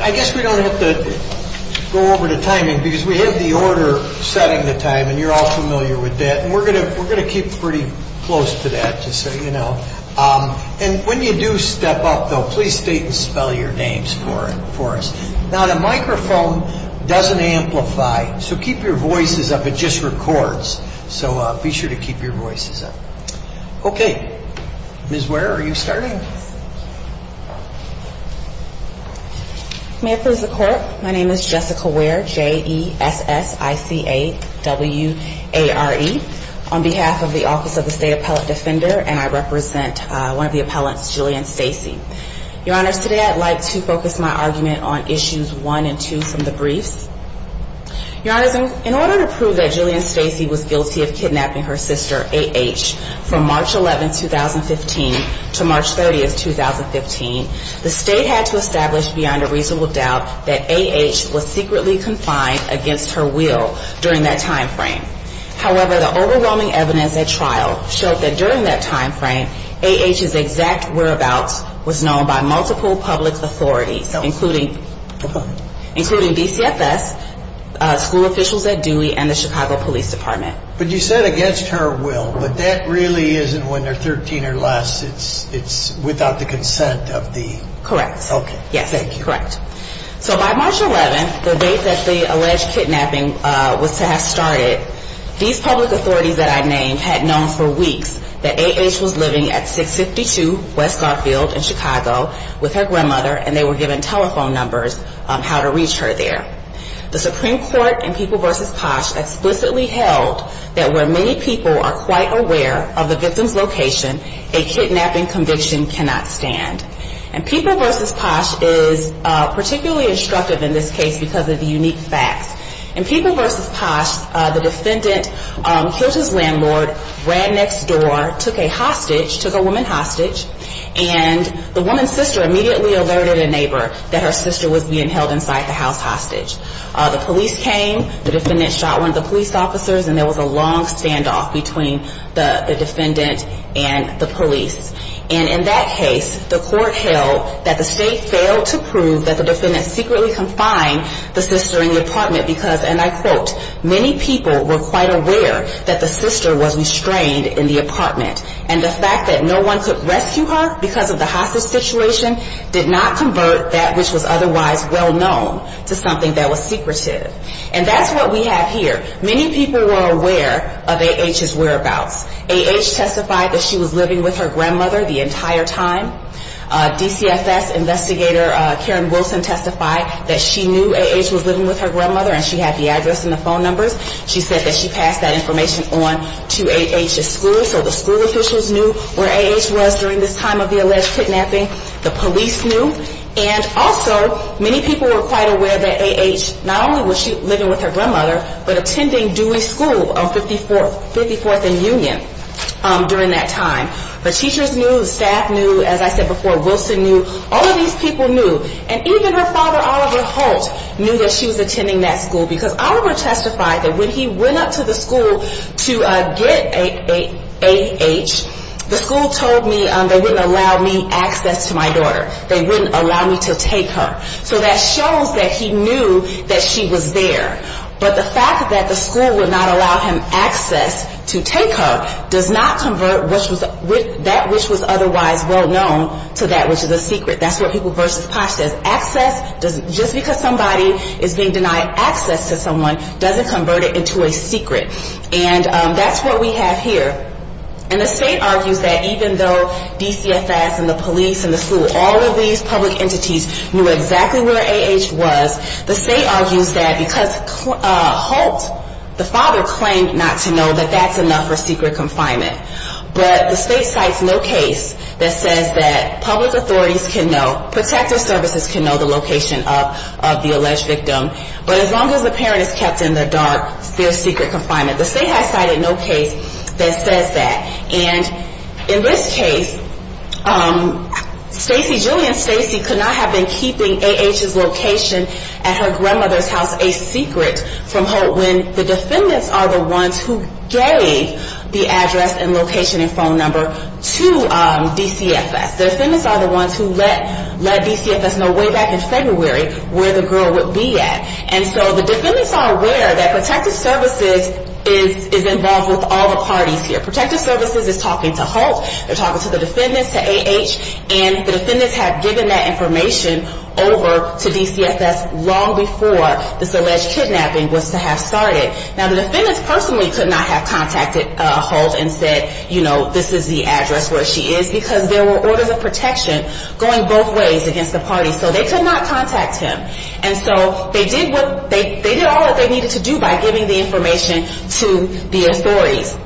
I guess we don't have to go over the timing because we have the order setting the time and you're all familiar with that and we're going to keep pretty close to that to say you know. And when you do step up though, please state and spell your names for us. Now the microphone doesn't amplify so keep your voices up, it just records. So be sure to keep your voices up. Okay, Ms. Ware are you starting? May I please the court? My name is Jessica Ware, J-E-S-S-I-C-A-W-A-R-E, on behalf of the Office of the State Appellate Defender and I represent one of the appellants, Jillian Stacey. Your honors, today I'd like to focus my argument on issues one and two from the briefs. Your honors, in order to prove that Jillian Stacey was guilty of kidnapping her sister, A.H., from March 11, 2015 to March 30, 2015, the state had to establish beyond a reasonable doubt that A.H. was secretly confined against her will during that time frame. However, the overwhelming evidence at trial showed that during that time frame, A.H.'s exact whereabouts was known by multiple public authorities, including BCFS, school officials at Dewey, and the Chicago Police Department. But you said against her will, but that really isn't when they're 13 or less, it's without the consent of the... Correct. Okay, thank you. Yes, correct. So by March 11, the date that the alleged kidnapping was to have started, these public authorities that I named had known for weeks that A.H. was living at 652 West Garfield in Chicago with her grandmother and they were given telephone numbers on how to reach her there. The Supreme Court in People v. Posh explicitly held that where many people are quite aware of the victim's location, a kidnapping conviction cannot stand. And People v. Posh is particularly instructive in this case because of the unique facts. In People v. Posh, the defendant killed his landlord, ran next door, took a hostage, took a woman hostage, and the woman's sister immediately alerted a neighbor that her sister was being held inside the house hostage. The police came, the defendant shot one of the police officers, and there was a long standoff between the defendant and the police. And in that case, the court held that the state failed to prove that the defendant secretly confined the sister in the apartment because, and I quote, many people were quite aware that the sister was restrained in the apartment. And the fact that no one could rescue her because of the hostage situation did not convert that which was otherwise well known to something that was secretive. And that's what we have here. Many people were aware of A.H.'s whereabouts. A.H. testified that she was living with her grandmother the entire time. DCFS investigator Karen Wilson testified that she knew A.H. was living with her grandmother and she had the address and the phone numbers. She said that she passed that information on to A.H.'s school. Many officials knew where A.H. was during this time of the alleged kidnapping. The police knew. And also, many people were quite aware that A.H. not only was she living with her grandmother, but attending Dewey School on 54th and Union during that time. But teachers knew, staff knew, as I said before, Wilson knew. All of these people knew. And even her father, Oliver Holt, knew that she was attending that school because Oliver testified that when he went up to the school to get A.H. the school told me they wouldn't allow me access to my daughter. They wouldn't allow me to take her. So that shows that he knew that she was there. But the fact that the school would not allow him access to take her does not convert that which was otherwise well known to that which is a secret. That's what People vs. Posh says. Access, just because somebody is being denied access to someone doesn't convert it into a secret. And that's what we have here. And the state argues that even though DCFS and the police and the school, all of these public entities knew exactly where A.H. was, the state argues that because Holt, the father, claimed not to know that that's enough for secret confinement. But the state cites no case that says that public authorities can know, protective services can know the location of the alleged victim. But as long as the parent is kept in the dark, there's secret confinement. The state has cited no case that says that. And in this case, Stacey, Julianne Stacey, could not have been keeping A.H.'s location at her grandmother's house a secret from Holt when the defendants are the ones who gave the address and location and phone number to DCFS. The defendants are the ones who let DCFS know way back in February where the girl would be at. And so the defendants are aware that protective services is involved with all the parties here. Protective services is talking to Holt, they're talking to the defendants, to A.H., and the defendants have given that information over to DCFS long before this alleged kidnapping was to have started. Now, the defendants personally could not have contacted Holt and said, you know, this is the address where she is, because there were orders of protection going both ways against the parties. So they could not contact him. And so they did all that they needed to do by giving the information to the authorities.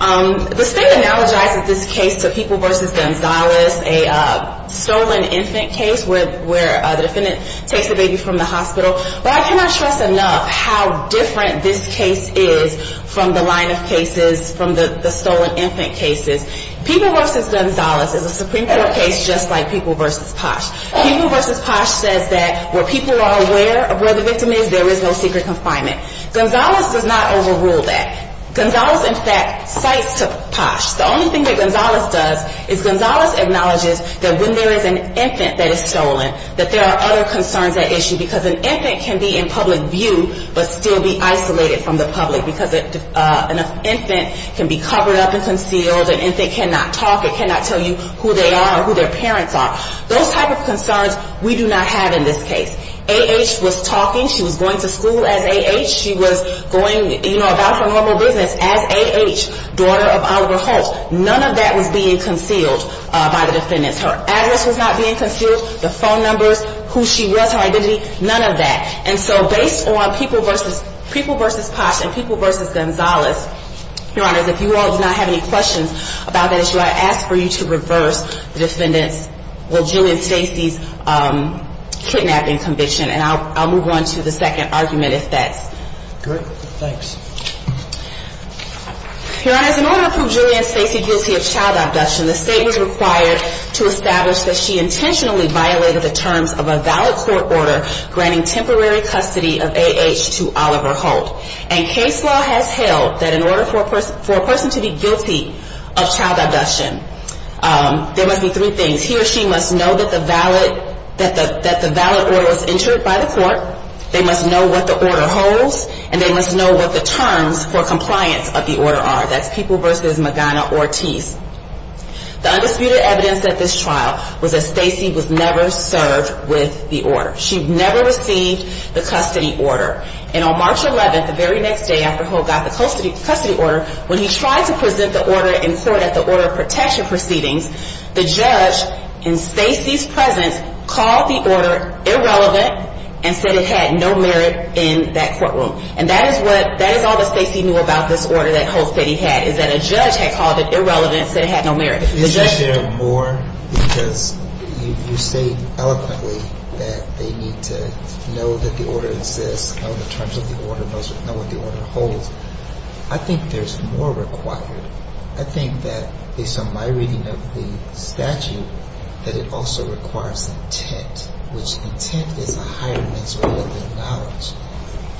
The state analogizes this case to People v. Gonzalez, a stolen infant case where the defendant takes the baby from the hospital. But I cannot stress enough how different this case is from the line of cases, from the stolen infant cases. People v. Gonzalez is a Supreme Court case just like People v. Posh. People v. Posh says that where people are aware of where the victim is, there is no secret confinement. Gonzalez does not overrule that. Gonzalez, in fact, cites to Posh. The only thing that Gonzalez does is Gonzalez acknowledges that when there is an infant that is stolen, that there are other concerns at issue, because an infant can be in public view, but still be isolated from the public, because an infant can be covered up and concealed, an infant cannot talk, it cannot tell you who they are or who their parents are. Those type of concerns we do not have in this case. A.H. was talking. She was going to school as A.H. She was going about her normal business as A.H., daughter of Oliver Holtz. None of that was being concealed by the defendants. Her address was not being concealed, the phone numbers, who she was, her identity, none of that. And so based on People v. Posh and People v. Gonzalez, Your Honors, if you all do not have any questions about that issue, I ask for you to reverse the defendants' Julian Stacey's kidnapping conviction, and I'll move on to the second argument, if that's… Great. Thanks. Your Honors, in order to prove Julian Stacey guilty of child abduction, the State was required to establish that she intentionally violated the terms of a valid court order granting temporary custody of A.H. to Oliver Holt, and case law has held that in order for a person to be guilty of child abduction, there must be three things. One is he or she must know that the valid order was entered by the court, they must know what the order holds, and they must know what the terms for compliance of the order are. That's People v. Magana Ortiz. The undisputed evidence at this trial was that Stacey was never served with the order. She never received the custody order. And on March 11th, the very next day after Holt got the custody order, when he tried to present the order in court at the order of protection proceedings, the judge, in Stacey's presence, called the order irrelevant and said it had no merit in that courtroom. And that is what – that is all that Stacey knew about this order that Holt said he had, is that a judge had called it irrelevant and said it had no merit. The judge… Is there more? Because you say eloquently that they need to know that the order exists, know the terms of the order, know what the order holds. I think there's more required. I think that, based on my reading of the statute, that it also requires intent, which intent is a higher measure than knowledge.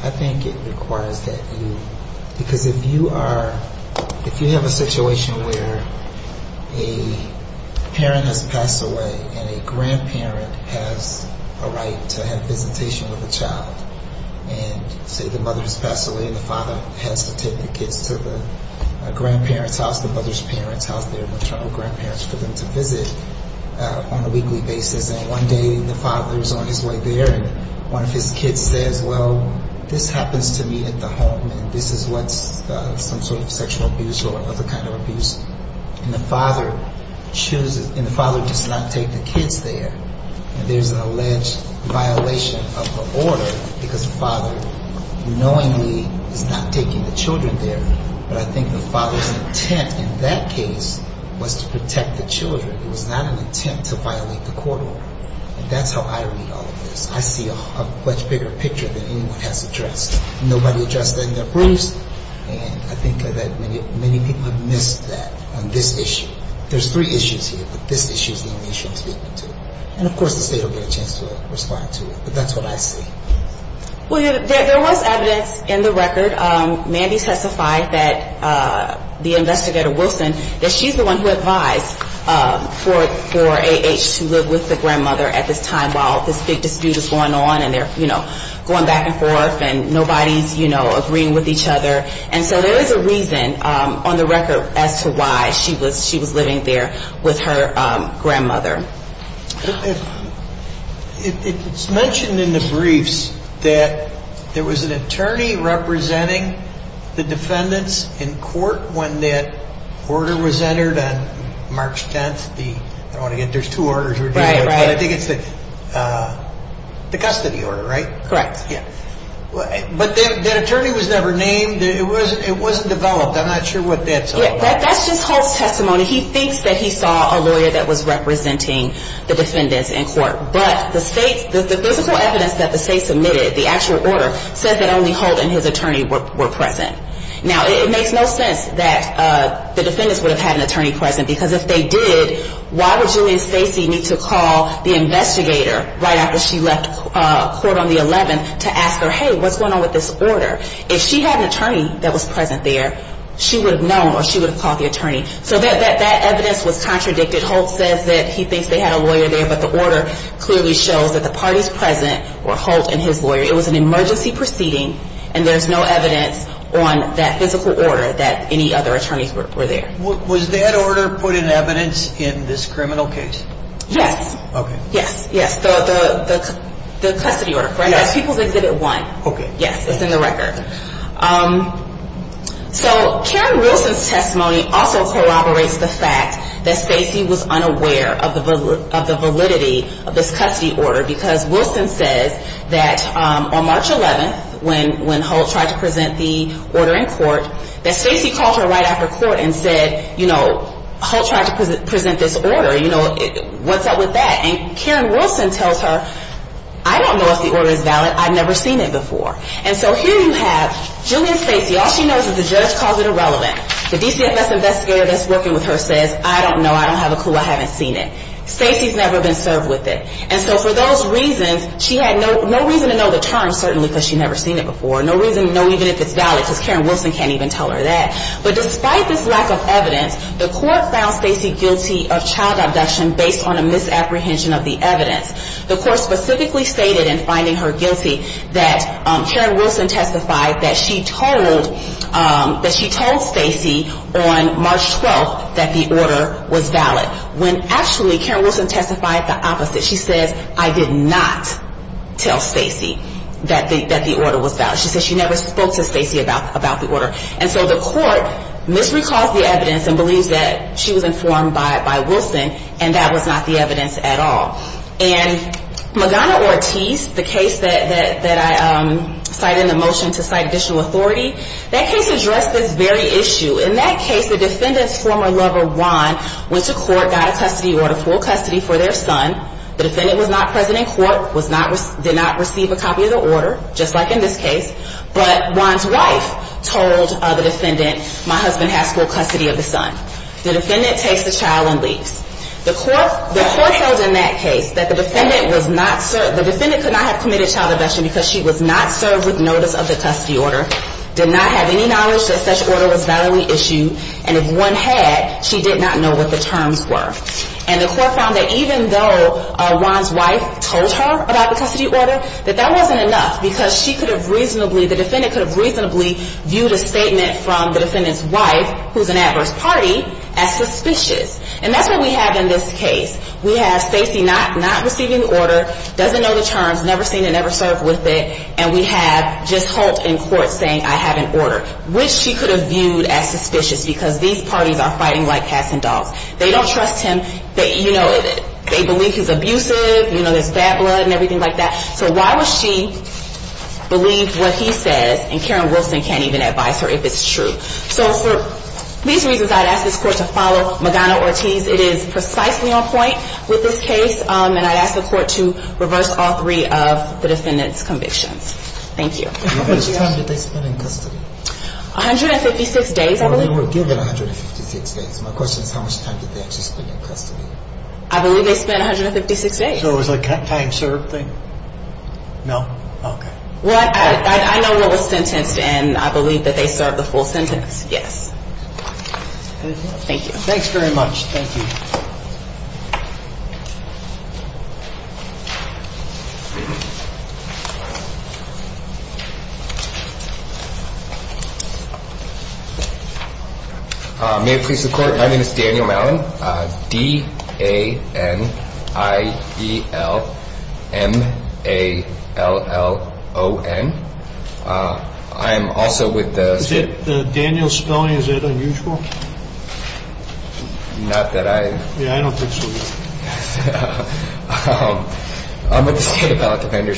I think it requires that you – because if you are – if you have a situation where a parent has passed away and a grandparent has a right to have visitation with a child, and say the mother has passed away and the father has to take the kids to the grandparent's house, and the grandparent has a right to visit the child, and the father has to take the kids to the grandparent's house, and the grandparent has a right to visit the child. And the grandparent's house, the mother's parents' house, their maternal grandparents, for them to visit on a weekly basis. And one day the father is on his way there and one of his kids says, well, this happens to me at the home and this is what's some sort of sexual abuse or other kind of abuse. And the father chooses – and the father does not take the kids there. And there's an alleged violation of the order because the father knowingly is not taking the children there. But I think the father's intent in that case was to protect the children. It was not an intent to violate the court order. And that's how I read all of this. I see a much bigger picture than anyone has addressed. Nobody addressed that in their briefs. And I think that many people have missed that on this issue. There's three issues here, but this issue is the only issue I'm speaking to. And of course the state will get a chance to respond to it, but that's what I see. Well, there was evidence in the record. Mandy testified that the investigator, Wilson, that she's the one who advised for A.H. to live with the grandmother at this time while this big dispute is going on and they're, you know, going back and forth and nobody's, you know, agreeing with each other. And so there is a reason on the record as to why she was living there with her grandmother. It's mentioned in the briefs that there was an attorney representing the defendants in court when that order was entered on March 10th. I don't want to get into there's two orders we're dealing with, but I think it's the custody order, right? Correct. But that attorney was never named. It wasn't developed. I'm not sure what that's all about. That's just Holt's testimony. He thinks that he saw a lawyer that was representing the defendants in court, but the physical evidence that the state submitted, the actual order, says that only Holt and his attorney were present. Now, it makes no sense that the defendants would have had an attorney present, because if they did, why would Julia Stacey need to call the investigator right after she left court on the 11th to ask her, hey, what's going on with this order? If she had an attorney that was present there, she would have known or she would have called the attorney. So that evidence was contradicted. Holt says that he thinks they had a lawyer there, but the order clearly shows that the parties present were Holt and his lawyer. It was an emergency proceeding, and there's no evidence on that physical order that any other attorneys were there. Was that order put in evidence in this criminal case? Yes. Okay. Yes, yes. The custody order. Yes. As People's Exhibit 1. Okay. Yes, it's in the record. So Karen Wilson's testimony also corroborates the fact that Stacey was unaware of the validity of this custody order, because Wilson says that on March 11th, when Holt tried to present the order in court, that Stacey called her right after court and said, you know, Holt tried to present this order, you know, what's up with that? And Karen Wilson tells her, I don't know if the order is valid. I've never seen it before. And so here you have Julianne Stacey. All she knows is the judge calls it irrelevant. The DCFS investigator that's working with her says, I don't know. I don't have a clue. I haven't seen it. Stacey's never been served with it. And so for those reasons, she had no reason to know the term, certainly, because she'd never seen it before. No reason to know even if it's valid, because Karen Wilson can't even tell her that. But despite this lack of evidence, the court found Stacey guilty of child abduction based on a misapprehension of the evidence. The court specifically stated in finding her guilty that Karen Wilson testified that she told Stacey on March 12th that the order was valid, when actually Karen Wilson testified the opposite. She says, I did not tell Stacey that the order was valid. She says she never spoke to Stacey about the order. And so the court misrecalls the evidence and believes that she was informed by Wilson, and that was not the evidence at all. And Magana Ortiz, the case that I cited in the motion to cite additional authority, that case addressed this very issue. In that case, the defendant's former lover, Juan, went to court, got a custody order, full custody for their son. The defendant was not present in court, did not receive a copy of the order, just like in this case. But Juan's wife told the defendant, my husband has full custody of the son. The defendant takes the child and leaves. The court held in that case that the defendant could not have committed child abduction because she was not served with notice of the custody order, did not have any knowledge that such order was validly issued, and if one had, she did not know what the terms were. And the court found that even though Juan's wife told her about the custody order, that that wasn't enough because she could have reasonably, the defendant could have reasonably viewed a statement from the defendant's wife, who's an adverse party, as suspicious. And that's what we have in this case. We have Stacey not receiving the order, doesn't know the terms, never seen it, never served with it, and we have just Holt in court saying, I have an order, which she could have viewed as suspicious because these parties are fighting like cats and dogs. They don't trust him. They, you know, they believe he's abusive. You know, there's bad blood and everything like that. So why would she believe what he says, and Karen Wilson can't even advise her if it's true. So for these reasons, I'd ask this court to follow Magana-Ortiz. It is precisely on point with this case, and I'd ask the court to reverse all three of the defendant's convictions. Thank you. How much time did they spend in custody? 156 days, I believe. Well, they were given 156 days. My question is how much time did they actually spend in custody? I believe they spent 156 days. So it was a time served thing? No. Okay. Well, I know what was sentenced, and I believe that they served the full sentence. Yes. Thank you. Thanks very much. Thank you. May it please the court. My name is Daniel Mallon. D-A-N-I-E-L-M-A-L-L-O-N. I am also with the State Appellate Defender's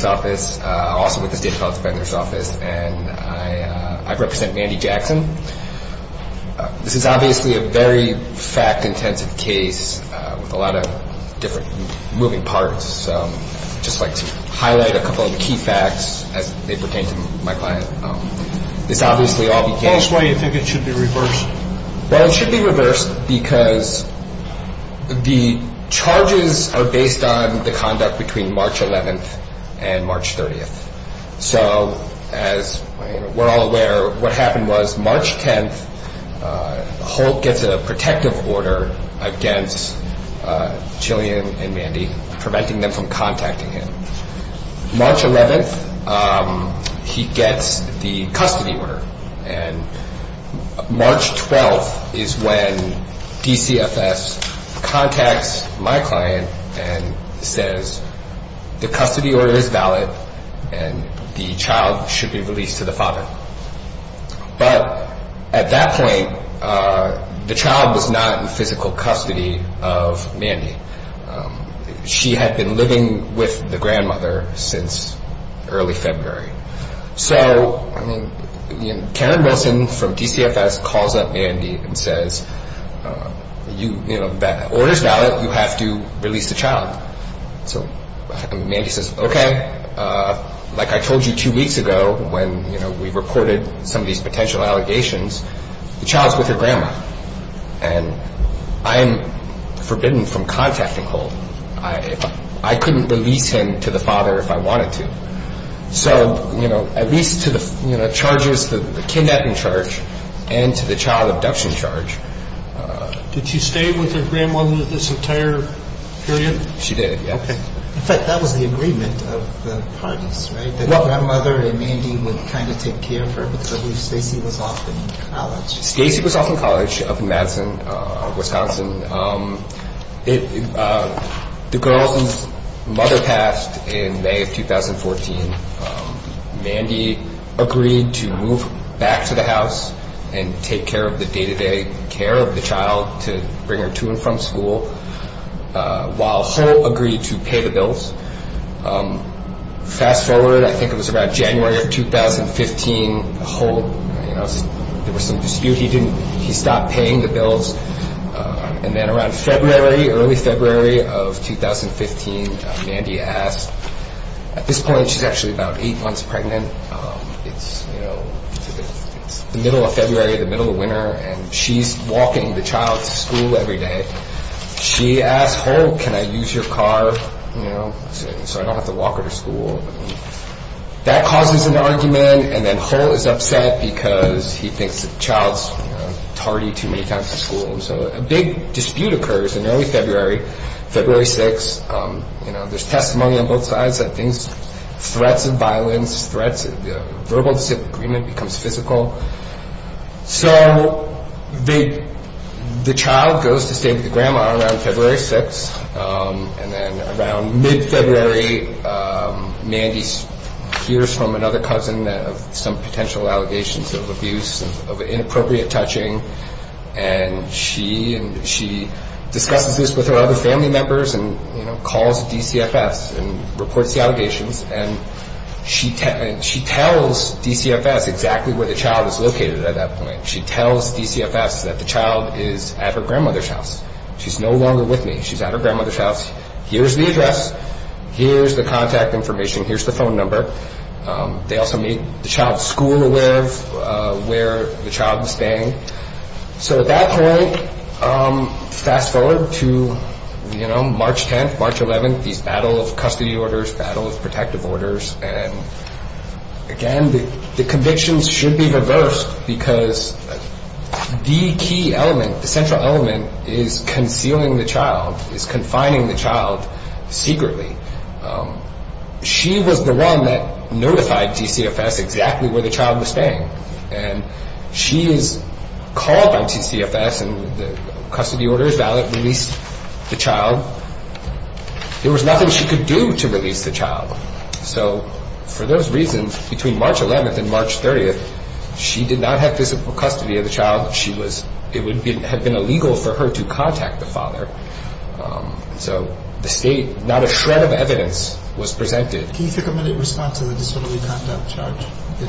Office. Also with the State Appellate Defender's Office. I'm with the State Appellate Defender's Office. And I represent Mandy Jackson. This is obviously a very fact-intensive case with a lot of different moving parts. So I'd just like to highlight a couple of key facts as they pertain to my client. This obviously all began... Tell us why you think it should be reversed. Well, it should be reversed because the charges are based on the conduct between March 11th and March 30th. So as we're all aware, what happened was March 10th, Holt gets a protective order against Jillian and Mandy, preventing them from contacting him. March 11th, he gets the custody order. And March 12th is when DCFS contacts my client and says the custody order is valid and the child should be released to the father. But at that point, the child was not in physical custody of Mandy. She had been living with the grandmother since early February. So Karen Wilson from DCFS calls up Mandy and says the order is valid, you have to release the child. So Mandy says, okay, like I told you two weeks ago when we reported some of these potential allegations, the child's with her grandma. And I am forbidden from contacting Holt. I couldn't release him to the father if I wanted to. So at least to the charges, the kidnapping charge and to the child abduction charge... In fact, that was the agreement of the parties, right? That grandmother and Mandy would kind of take care of her because Stacy was off in college. Stacy was off in college up in Madison, Wisconsin. The girl's mother passed in May of 2014. Mandy agreed to move back to the house and take care of the day-to-day care of the child to bring her to and from school, while Holt agreed to pay the bills. Fast forward, I think it was about January of 2015, Holt, there was some dispute. He stopped paying the bills. And then around February, early February of 2015, Mandy asked... So I don't have to walk her to school. That causes an argument and then Holt is upset because he thinks the child's tardy too many times to school. So a big dispute occurs in early February, February 6th. There's testimony on both sides that things, threats of violence, threats of verbal disagreement becomes physical. So the child goes to stay with the grandma around February 6th. And then around mid-February, Mandy hears from another cousin of some potential allegations of abuse, of inappropriate touching. And she discusses this with her other family members and calls DCFS and reports the allegations. And she tells DCFS exactly where the child is located at that point. She tells DCFS that the child is at her grandmother's house. She's no longer with me. She's at her grandmother's house. Here's the address. Here's the contact information. Here's the phone number. They also made the child's school aware of where the child was staying. So at that point, fast forward to March 10th, March 11th, these battle of custody orders, battle of protective orders. And again, the convictions should be reversed because the key element, the central element is concealing the child, is confining the child secretly. She was the one that notified DCFS exactly where the child was staying. And she is called on DCFS and the custody order is valid, released the child. There was nothing she could do to release the child. So for those reasons, between March 11th and March 30th, she did not have physical custody of the child. It would have been illegal for her to contact the father. So the state, not a shred of evidence was presented. Can you take a minute and respond to the disorderly conduct charge? That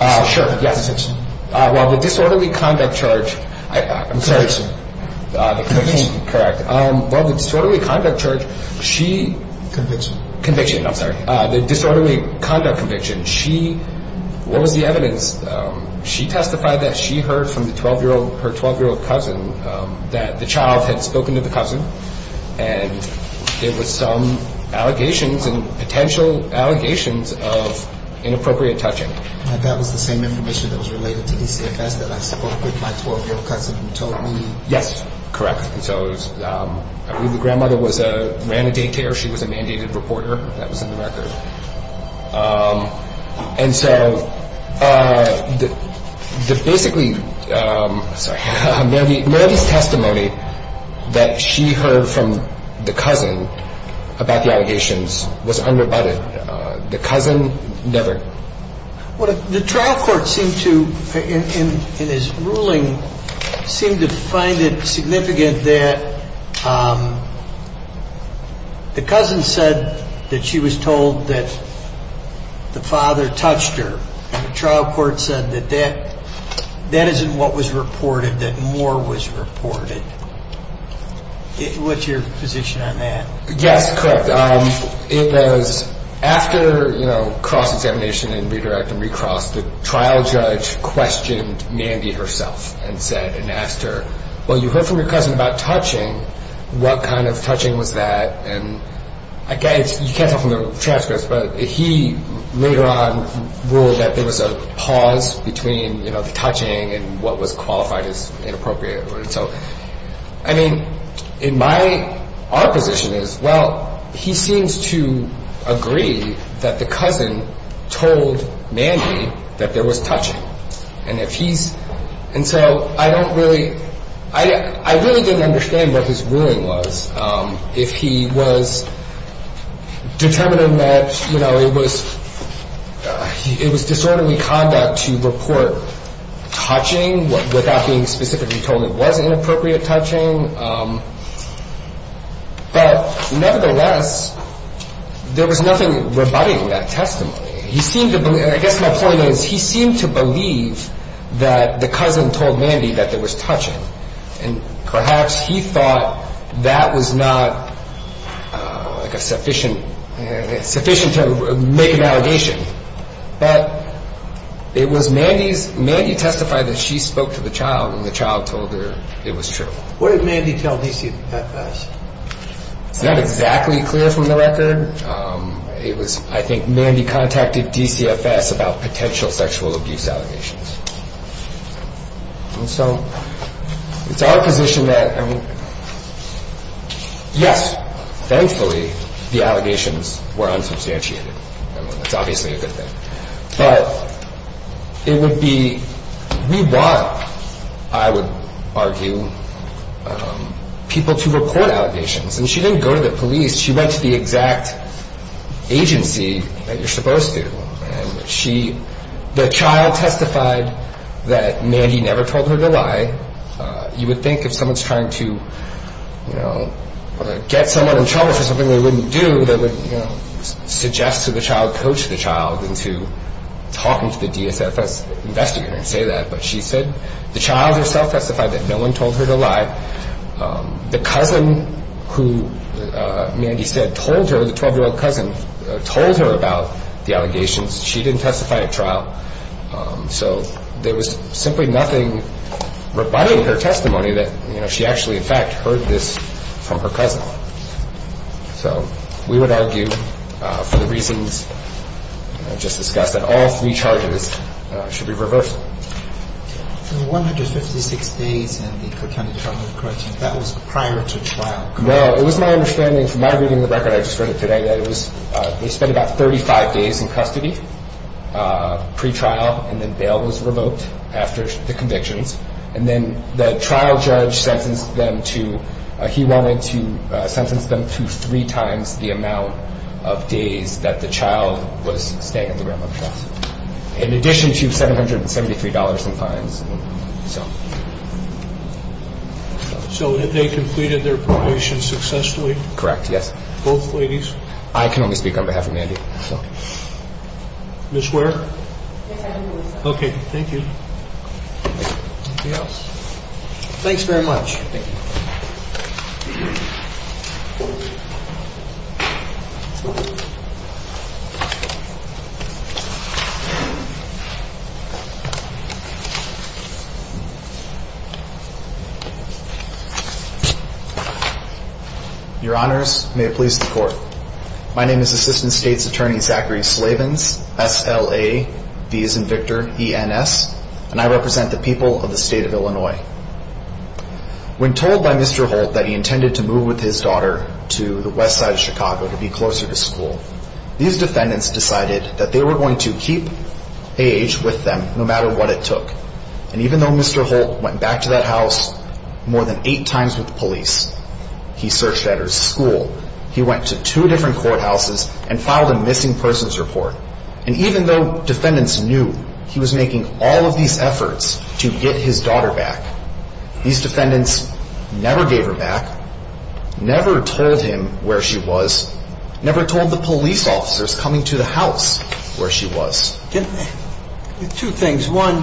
was the same information that was related to DCFS that I spoke with my 12-year-old cousin who told me. Yes, correct. So the grandmother ran a daycare. She was a mandated reporter. That was in the record. And so basically, Melody's testimony that she heard from the cousin about the allegations was unrebutted. The cousin never. The trial court seemed to, in his ruling, seemed to find it significant that the cousin said that she was told that the father touched her. The trial court said that that isn't what was reported, that more was reported. What's your position on that? Yes, correct. It was after cross-examination and redirect and recross, the trial judge questioned Mandy herself and said and asked her, well, you heard from your cousin about touching. What kind of touching was that? And you can't tell from the transcripts, but he later on ruled that there was a pause between the touching and what was qualified as inappropriate. I mean, in my, our position is, well, he seems to agree that the cousin told Mandy that there was touching. And if he's, and so I don't really, I really didn't understand what his ruling was if he was determined that, you know, it was disorderly conduct to report touching without being specifically told it wasn't. It was inappropriate touching. But nevertheless, there was nothing rebutting that testimony. He seemed to, I guess my point is, he seemed to believe that the cousin told Mandy that there was touching. What did Mandy tell DCFS? It's not exactly clear from the record. It was, I think Mandy contacted DCFS about potential sexual abuse allegations. And so it's our position that, yes, thankfully the allegations were unsubstantiated. That's obviously a good thing. But it would be, we want, I would argue, people to report allegations. And she didn't go to the police. She went to the exact agency that you're supposed to. And she, the child testified that Mandy never told her to lie. You would think if someone's trying to, you know, get someone in trouble for something they wouldn't do, they would, you know, suggest to the child, coach the child into talking to the DSFS investigator and say that. But she said the child herself testified that no one told her to lie. The cousin who Mandy said told her, the 12-year-old cousin, told her about the allegations. She didn't testify at trial. So there was simply nothing rebutting her testimony that, you know, she actually, in fact, heard this from her cousin. So we would argue, for the reasons just discussed, that all three charges should be reversed. In the 156 days in the Coatani trial, that was prior to trial. Well, it was my understanding from my reading of the record I just read today that it was, they spent about 35 days in custody pre-trial, and then bail was revoked after the convictions. And then the trial judge sentenced them to, he wanted to sentence them to three times the amount of days that the child was staying at the grandmother's house, in addition to $773 in fines. So had they completed their probation successfully? Correct, yes. Both ladies? I can only speak on behalf of Mandy. Ms. Ware? Okay, thank you. Anything else? Thanks very much. Thank you. Your honors, may it please the court. My name is Assistant State's Attorney Zachary Slavins, S-L-A-V as in Victor, E-N-S, and I represent the people of the state of Illinois. When told by Mr. Holt that he intended to move with his daughter to the west side of Chicago to be closer to school, these defendants decided that they were going to keep A.H. with them no matter what it took. And even though Mr. Holt went back to that house more than eight times with the police, he searched at her school, he went to two different courthouses and filed a missing persons report. And even though defendants knew he was making all of these efforts to get his daughter back, these defendants never gave her back, never told him where she was, never told the police officers coming to the house where she was. Two things. One,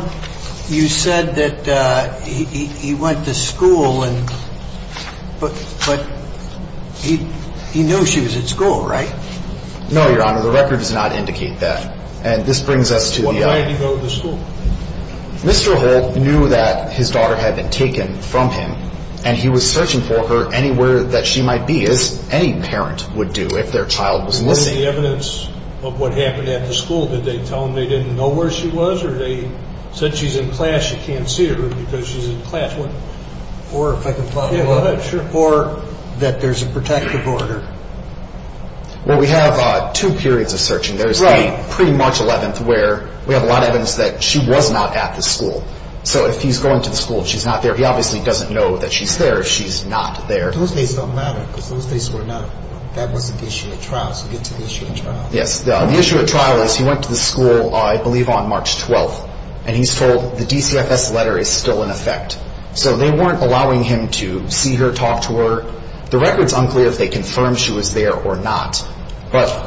you said that he went to school, but he knew she was at school, right? No, your honor, the record does not indicate that. And this brings us to the other. Why did he go to school? Mr. Holt knew that his daughter had been taken from him, and he was searching for her anywhere that she might be, as any parent would do if their child was missing. What was the evidence of what happened at the school? Did they tell him they didn't know where she was, or they said she's in class, you can't see her because she's in class? Or that there's a protective order. Well, we have two periods of searching. There's the pre-March 11th where we have a lot of evidence that she was not at the school. So if he's going to the school and she's not there, he obviously doesn't know that she's there if she's not there. Those days don't matter, because those days were not, that wasn't the issue at trial, so get to the issue at trial. Yes, the issue at trial is he went to the school, I believe, on March 12th, and he's told the DCFS letter is still in effect. So they weren't allowing him to see her, talk to her. The record's unclear if they confirmed she was there or not. But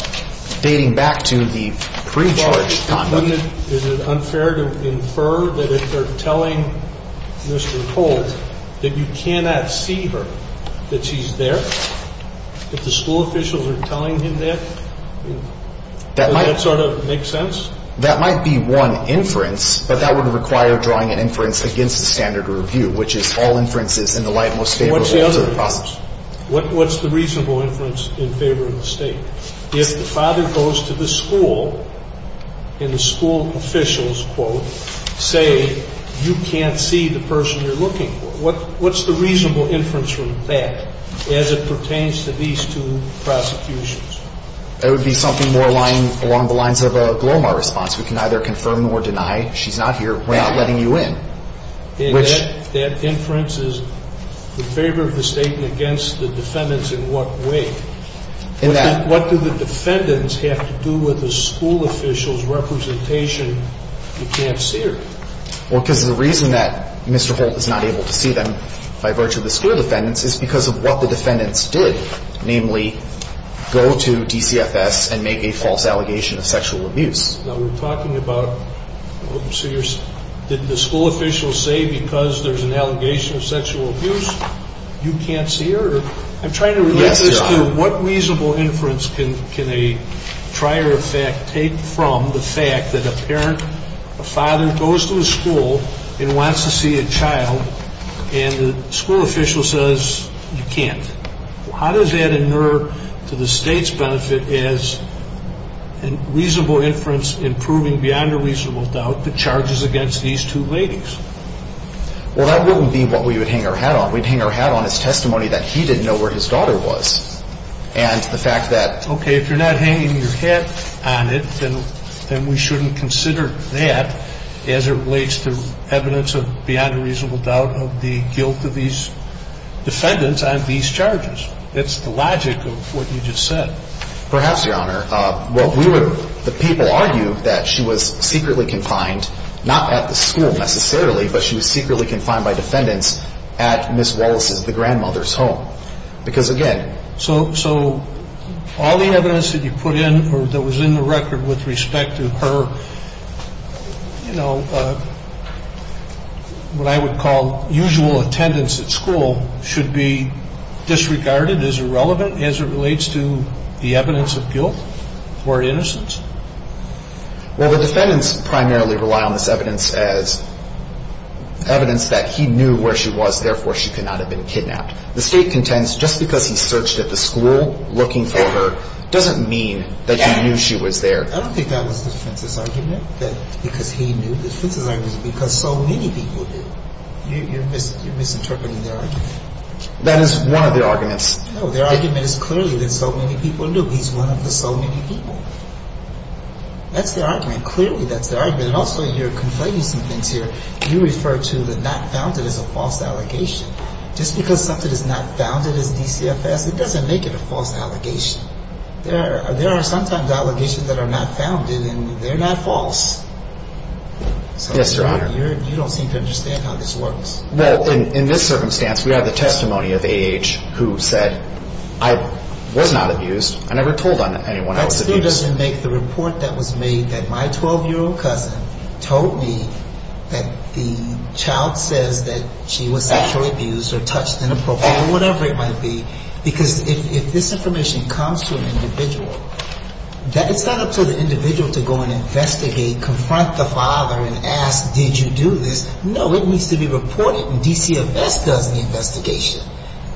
dating back to the pre-charge conduct. Isn't it unfair to infer that if they're telling Mr. Holt that you cannot see her, that she's there? If the school officials are telling him that, does that sort of make sense? That might be one inference, but that would require drawing an inference against the standard of review, which is all inferences in the light most favorable to the process. What's the reasonable inference in favor of the state? If the father goes to the school and the school officials, quote, say you can't see the person you're looking for, what's the reasonable inference from that as it pertains to these two prosecutions? That would be something more aligned along the lines of a Glomar response. We can either confirm or deny she's not here. We're not letting you in. And that inference is in favor of the state and against the defendants in what way? What do the defendants have to do with the school officials' representation, you can't see her? Well, because the reason that Mr. Holt is not able to see them by virtue of the school defendants is because of what the defendants did, namely, go to DCFS and make a false allegation of sexual abuse. Now, we're talking about, did the school officials say because there's an allegation of sexual abuse, you can't see her? I'm trying to relate this to what reasonable inference can a trier of fact take from the fact that a parent, a father goes to a school and wants to see a child, and the school official says you can't. How does that inure to the state's benefit as a reasonable inference in proving beyond a reasonable doubt the charges against these two ladies? Well, that wouldn't be what we would hang our hat on. We'd hang our hat on his testimony that he didn't know where his daughter was. And the fact that... Okay, if you're not hanging your hat on it, then we shouldn't consider that as it relates to evidence of beyond a reasonable doubt of the guilt of these defendants on these charges. That's the logic of what you just said. Perhaps, Your Honor. Well, we would... The people argue that she was secretly confined, not at the school necessarily, but she was secretly confined by defendants at Ms. Wallace's, the grandmother's, home. Because, again... So all the evidence that you put in or that was in the record with respect to her, you know, what I would call usual attendance at school should be disregarded as irrelevant as it relates to the evidence of guilt or innocence? Well, the defendants primarily rely on this evidence as evidence that he knew where she was. Therefore, she could not have been kidnapped. The State contends just because he searched at the school looking for her doesn't mean that he knew she was there. I don't think that was the defense's argument, that because he knew. The defense's argument is because so many people knew. You're misinterpreting their argument. That is one of their arguments. No, their argument is clearly that so many people knew. He's one of the so many people. That's their argument. Clearly, that's their argument. And also, you're conflating some things here. You refer to the not founded as a false allegation. Just because something is not founded as DCFS, it doesn't make it a false allegation. There are sometimes allegations that are not founded, and they're not false. Yes, Your Honor. You don't seem to understand how this works. Well, in this circumstance, we have the testimony of A.H. who said, I was not abused. I never told anyone I was abused. The defense here doesn't make the report that was made that my 12-year-old cousin told me that the child says that she was sexually abused or touched inappropriately or whatever it might be, because if this information comes to an individual, it's not up to the individual to go and investigate, confront the father and ask, did you do this? No, it needs to be reported, and DCFS does the investigation.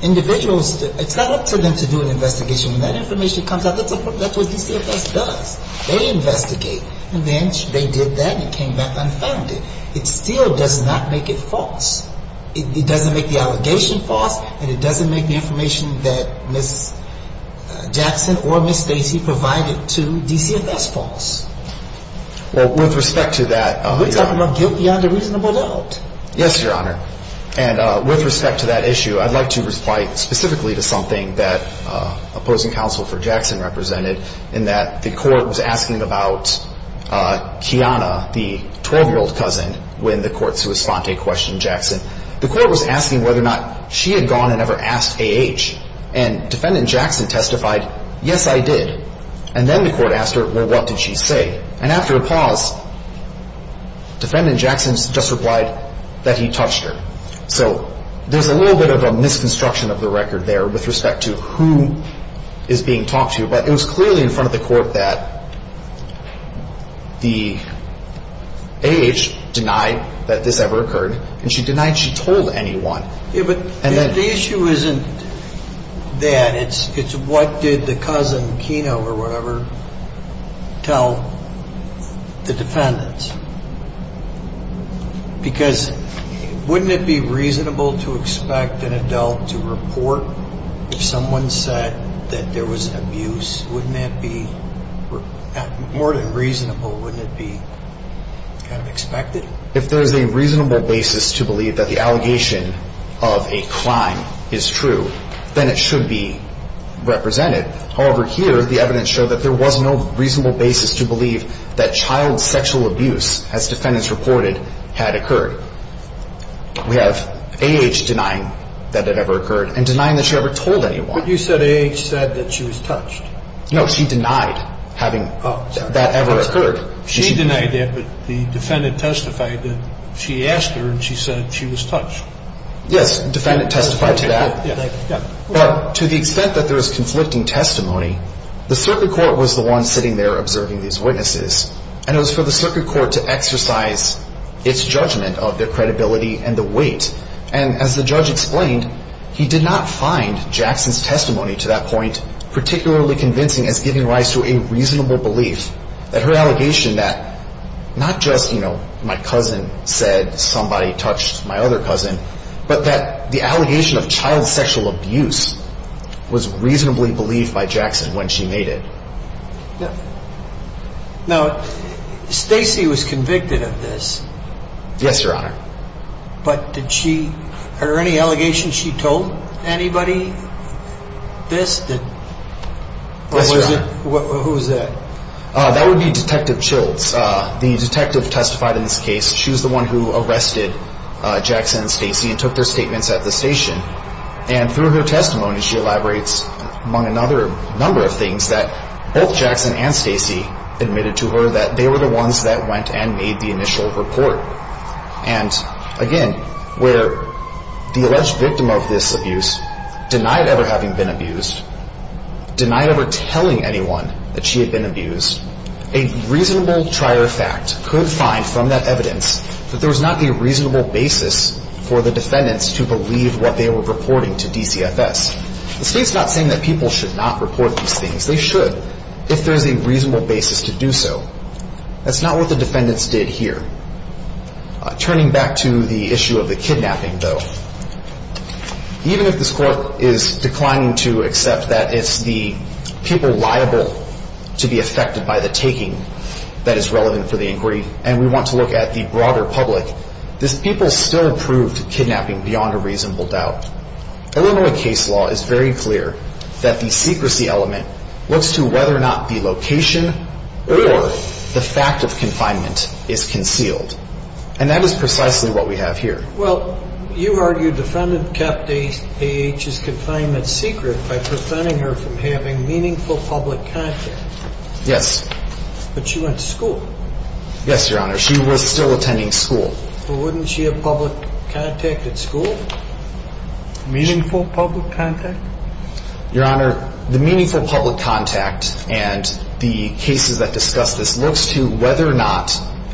Individuals, it's not up to them to do an investigation. When that information comes out, that's what DCFS does. They investigate. And then they did that and it came back unfounded. It still does not make it false. It doesn't make the allegation false, and it doesn't make the information that Ms. Jackson or Ms. Stacy provided to DCFS false. Well, with respect to that. We're talking about guilt beyond a reasonable doubt. Yes, Your Honor. And with respect to that issue, I'd like to reply specifically to something that opposing counsel for Jackson represented in that the court was asking about Kiana, the 12-year-old cousin, when the court sui sponte questioned Jackson. The court was asking whether or not she had gone and ever asked A.H., and Defendant Jackson testified, yes, I did. And then the court asked her, well, what did she say? And after a pause, Defendant Jackson just replied that he touched her. So there's a little bit of a misconstruction of the record there with respect to who is being talked to, but it was clearly in front of the court that the A.H. denied that this ever occurred, and she denied she told anyone. The issue isn't that. It's what did the cousin, Kiana or whatever, tell the defendants? Because wouldn't it be reasonable to expect an adult to report if someone said that there was abuse? Wouldn't that be more than reasonable? Wouldn't it be kind of expected? If there is a reasonable basis to believe that the allegation of a crime is true, then it should be represented. However, here the evidence showed that there was no reasonable basis to believe that child sexual abuse, as defendants reported, had occurred. We have A.H. denying that it ever occurred and denying that she ever told anyone. But you said A.H. said that she was touched. No, she denied having that ever occurred. She denied that, but the defendant testified that she asked her and she said she was touched. Yes, the defendant testified to that. But to the extent that there is conflicting testimony, the circuit court was the one sitting there observing these witnesses, and it was for the circuit court to exercise its judgment of their credibility and the weight. And as the judge explained, he did not find Jackson's testimony to that point particularly convincing as giving rise to a reasonable belief that her allegation that not just, you know, my cousin said somebody touched my other cousin, but that the allegation of child sexual abuse was reasonably believed by Jackson when she made it. Now, Stacy was convicted of this. Yes, Your Honor. But did she, are there any allegations she told anybody this? Yes, Your Honor. Who is that? That would be Detective Chills. The detective testified in this case. She was the one who arrested Jackson and Stacy and took their statements at the station. And through her testimony, she elaborates among another number of things that both Jackson and Stacy admitted to her that they were the ones that went and made the initial report. And again, where the alleged victim of this abuse denied ever having been abused, denied ever telling anyone that she had been abused, a reasonable trier fact could find from that evidence that there was not a reasonable basis for the defendants to believe what they were reporting to DCFS. The state's not saying that people should not report these things. They should if there's a reasonable basis to do so. That's not what the defendants did here. Turning back to the issue of the kidnapping, though, even if this court is declining to accept that it's the people liable to be affected by the taking that is relevant for the inquiry and we want to look at the broader public, these people still proved kidnapping beyond a reasonable doubt. Illinois case law is very clear that the secrecy element looks to whether or not the location or the fact of confinement is concealed. And that is precisely what we have here. Well, you argued the defendant kept AAH's confinement secret by preventing her from having meaningful public contact. Yes. But she went to school. Yes, Your Honor. She was still attending school. Well, wouldn't she have public contact at school, meaningful public contact? Your Honor, the meaningful public contact and the cases that discuss this looks to whether or not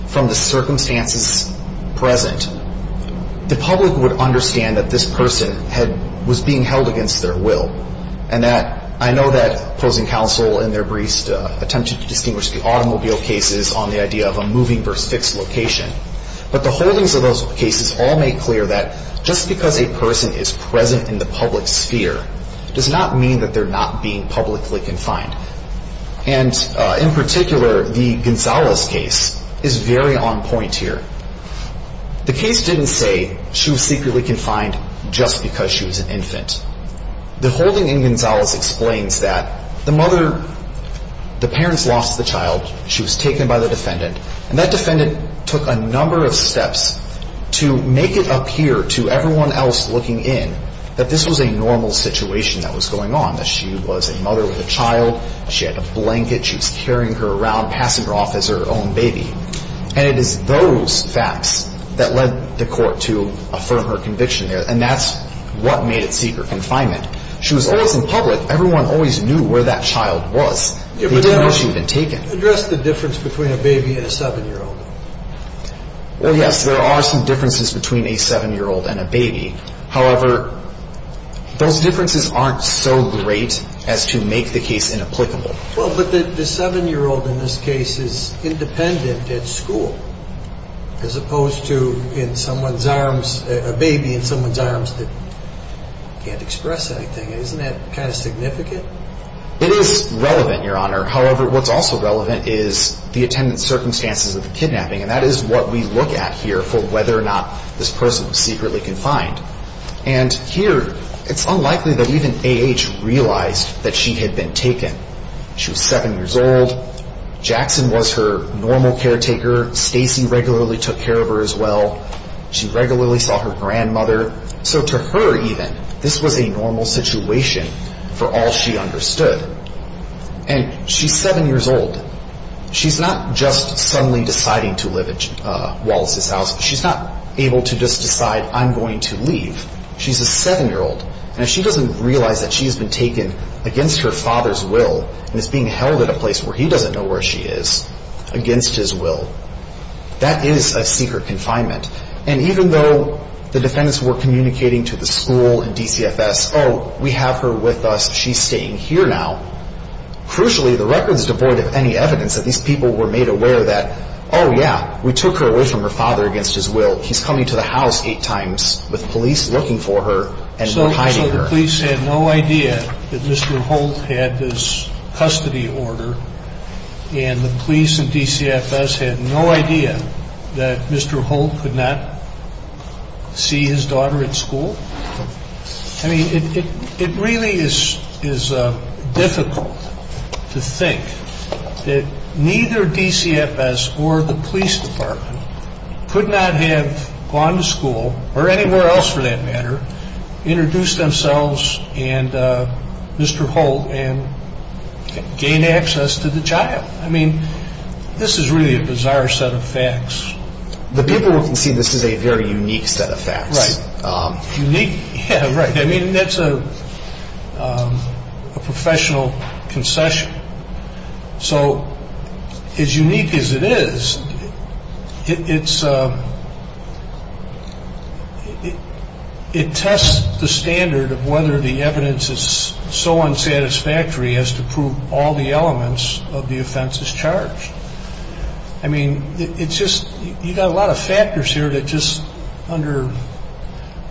from the circumstances present, the public would understand that this person was being held against their will. And I know that opposing counsel in their briefs attempted to distinguish the automobile cases on the idea of a moving versus fixed location. But the holdings of those cases all make clear that just because a person is present in the public sphere does not mean that they're not being publicly confined. And in particular, the Gonzalez case is very on point here. The case didn't say she was secretly confined just because she was an infant. The holding in Gonzalez explains that the mother, the parents lost the child. She was taken by the defendant. And that defendant took a number of steps to make it appear to everyone else looking in that this was a normal situation that was going on, that she was a mother with a child, she had a blanket, she was carrying her around, passing her off as her own baby. And it is those facts that led the court to affirm her conviction there. And that's what made it secret confinement. She was always in public. Everyone always knew where that child was. They didn't know she had been taken. Address the difference between a baby and a 7-year-old. Well, yes, there are some differences between a 7-year-old and a baby. However, those differences aren't so great as to make the case inapplicable. Well, but the 7-year-old in this case is independent at school as opposed to in someone's arms, a baby in someone's arms that can't express anything. Isn't that kind of significant? It is relevant, Your Honor. However, what's also relevant is the attendant's circumstances of the kidnapping. And that is what we look at here for whether or not this person was secretly confined. And here it's unlikely that even A.H. realized that she had been taken. She was 7 years old. Jackson was her normal caretaker. Stacy regularly took care of her as well. She regularly saw her grandmother. So to her, even, this was a normal situation for all she understood. And she's 7 years old. She's not just suddenly deciding to live at Wallace's house. She's not able to just decide, I'm going to leave. She's a 7-year-old. And if she doesn't realize that she has been taken against her father's will and is being held at a place where he doesn't know where she is, against his will, that is a secret confinement. And even though the defendants were communicating to the school and DCFS, oh, we have her with us, she's staying here now, crucially, the record is devoid of any evidence that these people were made aware that, oh, yeah, we took her away from her father against his will. He's coming to the house 8 times with police looking for her and hiding her. So the police had no idea that Mr. Holt had this custody order. And the police and DCFS had no idea that Mr. Holt could not see his daughter at school? I mean, it really is difficult to think that neither DCFS or the police department could not have gone to school, or anywhere else for that matter, introduced themselves and Mr. Holt and gained access to the child. I mean, this is really a bizarre set of facts. The people who can see this is a very unique set of facts. Right. Unique? Yeah, right. I mean, that's a professional concession. So as unique as it is, it tests the standard of whether the evidence is so unsatisfactory as to prove all the elements of the offenses charged. I mean, it's just, you've got a lot of factors here that just, under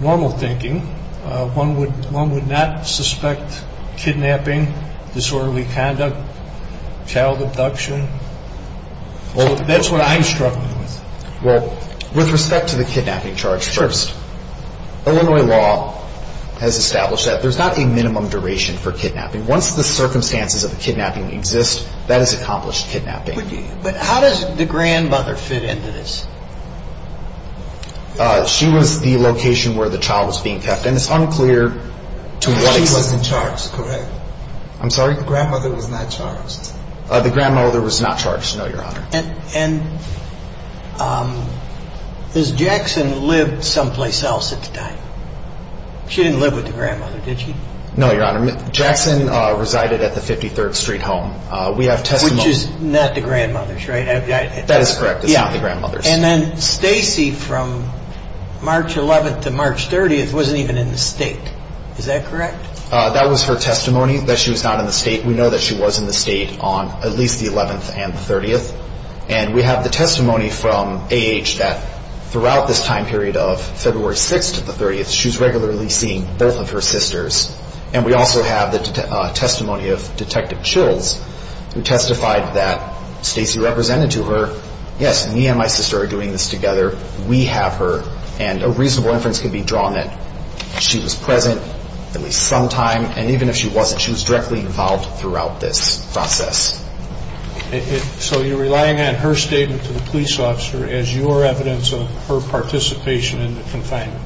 normal thinking, one would not suspect kidnapping, disorderly conduct, child abduction. Well, that's what I'm struggling with. Well, with respect to the kidnapping charge first, Illinois law has established that there's not a minimum duration for kidnapping. Once the circumstances of the kidnapping exist, that is accomplished kidnapping. But how does the grandmother fit into this? She was the location where the child was being kept, and it's unclear to what extent. She wasn't charged, correct? I'm sorry? The grandmother was not charged? The grandmother was not charged, no, Your Honor. And has Jackson lived someplace else at the time? She didn't live with the grandmother, did she? No, Your Honor. Jackson resided at the 53rd Street home. Which is not the grandmother's, right? That is correct. It's not the grandmother's. And then Stacy, from March 11th to March 30th, wasn't even in the state. Is that correct? That was her testimony, that she was not in the state. We know that she was in the state on at least the 11th and the 30th. And we have the testimony from A.H. that throughout this time period of February 6th to the 30th, she was regularly seeing both of her sisters. And we also have the testimony of Detective Chills, who testified that Stacy represented to her, yes, me and my sister are doing this together, we have her. And a reasonable inference can be drawn that she was present at least some time. And even if she wasn't, she was directly involved throughout this process. So you're relying on her statement to the police officer as your evidence of her participation in the confinement?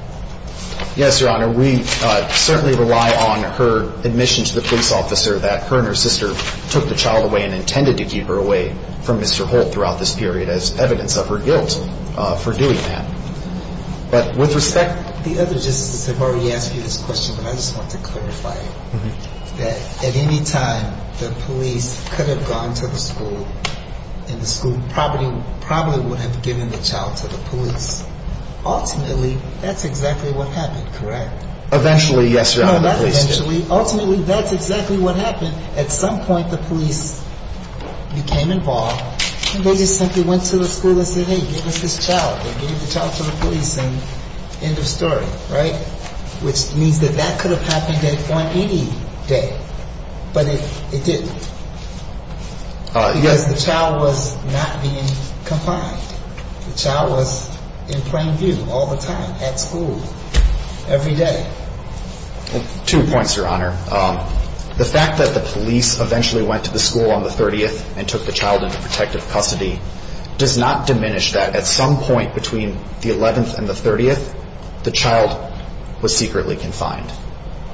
Yes, Your Honor. We certainly rely on her admission to the police officer that her and her sister took the child away and intended to keep her away from Mr. Holt throughout this period as evidence of her guilt for doing that. But with respect... The other justice has already asked you this question, but I just want to clarify it. That at any time, the police could have gone to the school, and the school probably would have given the child to the police. Ultimately, that's exactly what happened, correct? Eventually, yes, Your Honor, the police did. Ultimately, that's exactly what happened. At some point, the police became involved, and they just simply went to the school and said, hey, give us this child. They gave the child to the police, and end of story, right? Which means that that could have happened at any point any day. But it didn't. Because the child was not being confined. The child was in plain view all the time at school every day. Two points, Your Honor. The fact that the police eventually went to the school on the 30th and took the child into protective custody does not diminish that at some point between the 11th and the 30th, the child was secretly confined.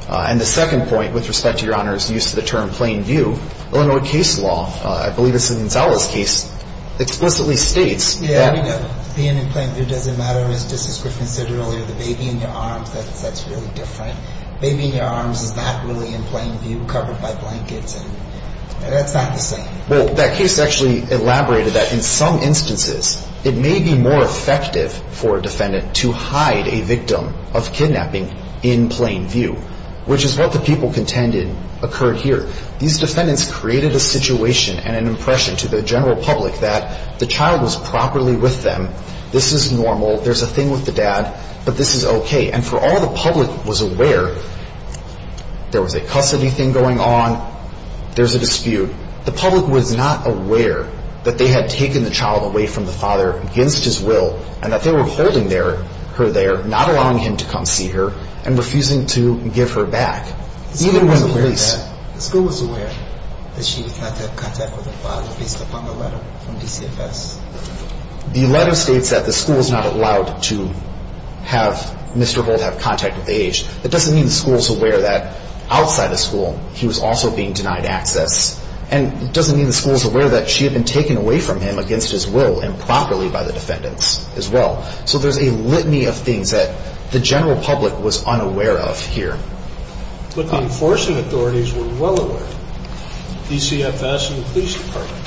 And the second point with respect to Your Honor's use of the term plain view, Illinois case law, I believe this is Gonzalo's case, explicitly states that Yeah, being in plain view doesn't matter. As Justice Griffin said earlier, the baby in your arms, that's really different. Baby in your arms is not really in plain view, covered by blankets, and that's not the same. Well, that case actually elaborated that in some instances, it may be more effective for a defendant to hide a victim of kidnapping in plain view, which is what the people contended occurred here. These defendants created a situation and an impression to the general public that the child was properly with them, this is normal, there's a thing with the dad, but this is okay. And for all the public was aware, there was a custody thing going on, there's a dispute. The public was not aware that they had taken the child away from the father against his will and that they were holding her there, not allowing him to come see her, and refusing to give her back. The school was aware that she did not have contact with the father based upon the letter from DCFS. The letter states that the school is not allowed to have Mr. Holt have contact with the age. That doesn't mean the school is aware that outside the school he was also being denied access. And it doesn't mean the school is aware that she had been taken away from him against his will improperly by the defendants as well. So there's a litany of things that the general public was unaware of here. But the enforcing authorities were well aware. DCFS and the police department.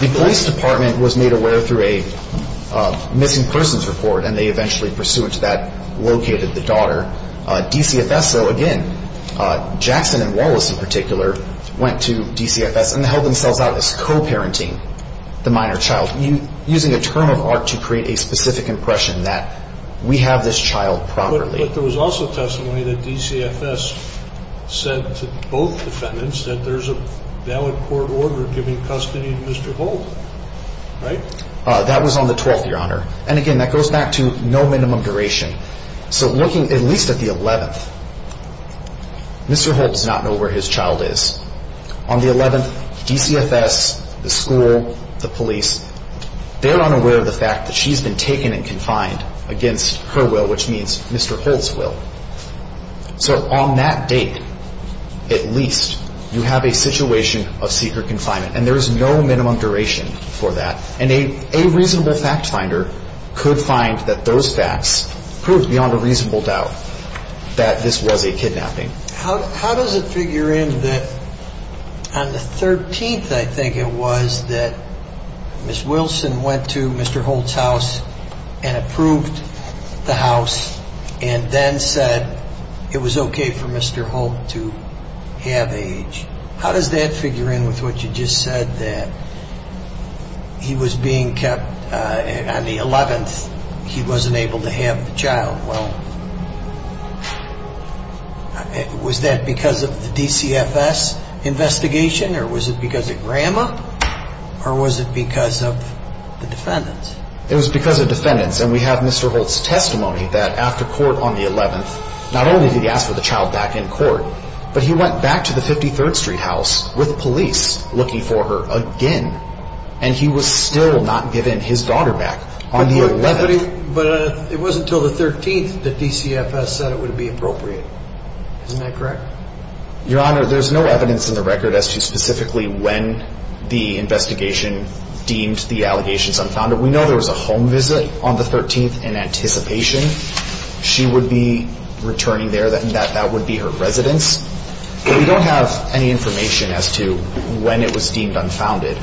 The police department was made aware through a missing persons report and they eventually, pursuant to that, located the daughter. DCFS, though, again, Jackson and Wallace in particular went to DCFS and held themselves out as co-parenting the minor child, using a term of art to create a specific impression that we have this child properly. But there was also testimony that DCFS said to both defendants that there's a valid court order giving custody to Mr. Holt, right? That was on the 12th, Your Honor. And again, that goes back to no minimum duration. So looking at least at the 11th, Mr. Holt does not know where his child is. On the 11th, DCFS, the school, the police, they're unaware of the fact that she's been taken and confined against her will, which means Mr. Holt's will. So on that date, at least, you have a situation of secret confinement. And there is no minimum duration for that. And a reasonable fact finder could find that those facts proved beyond a reasonable doubt that this was a kidnapping. How does it figure in that on the 13th, I think it was, that Ms. Wilson went to Mr. Holt's house and approved the house and then said it was okay for Mr. Holt to have age? How does that figure in with what you just said, that he was being kept on the 11th, he wasn't able to have the child? Well, was that because of the DCFS investigation or was it because of grandma or was it because of the defendants? It was because of defendants. And we have Mr. Holt's testimony that after court on the 11th, not only did he ask for the child back in court, but he went back to the 53rd Street house with police looking for her again. And he was still not given his daughter back on the 11th. But it wasn't until the 13th that DCFS said it would be appropriate. Isn't that correct? Your Honor, there's no evidence in the record as to specifically when the investigation deemed the allegations unfounded. We know there was a home visit on the 13th in anticipation. She would be returning there and that would be her residence. But we don't have any information as to when it was deemed unfounded.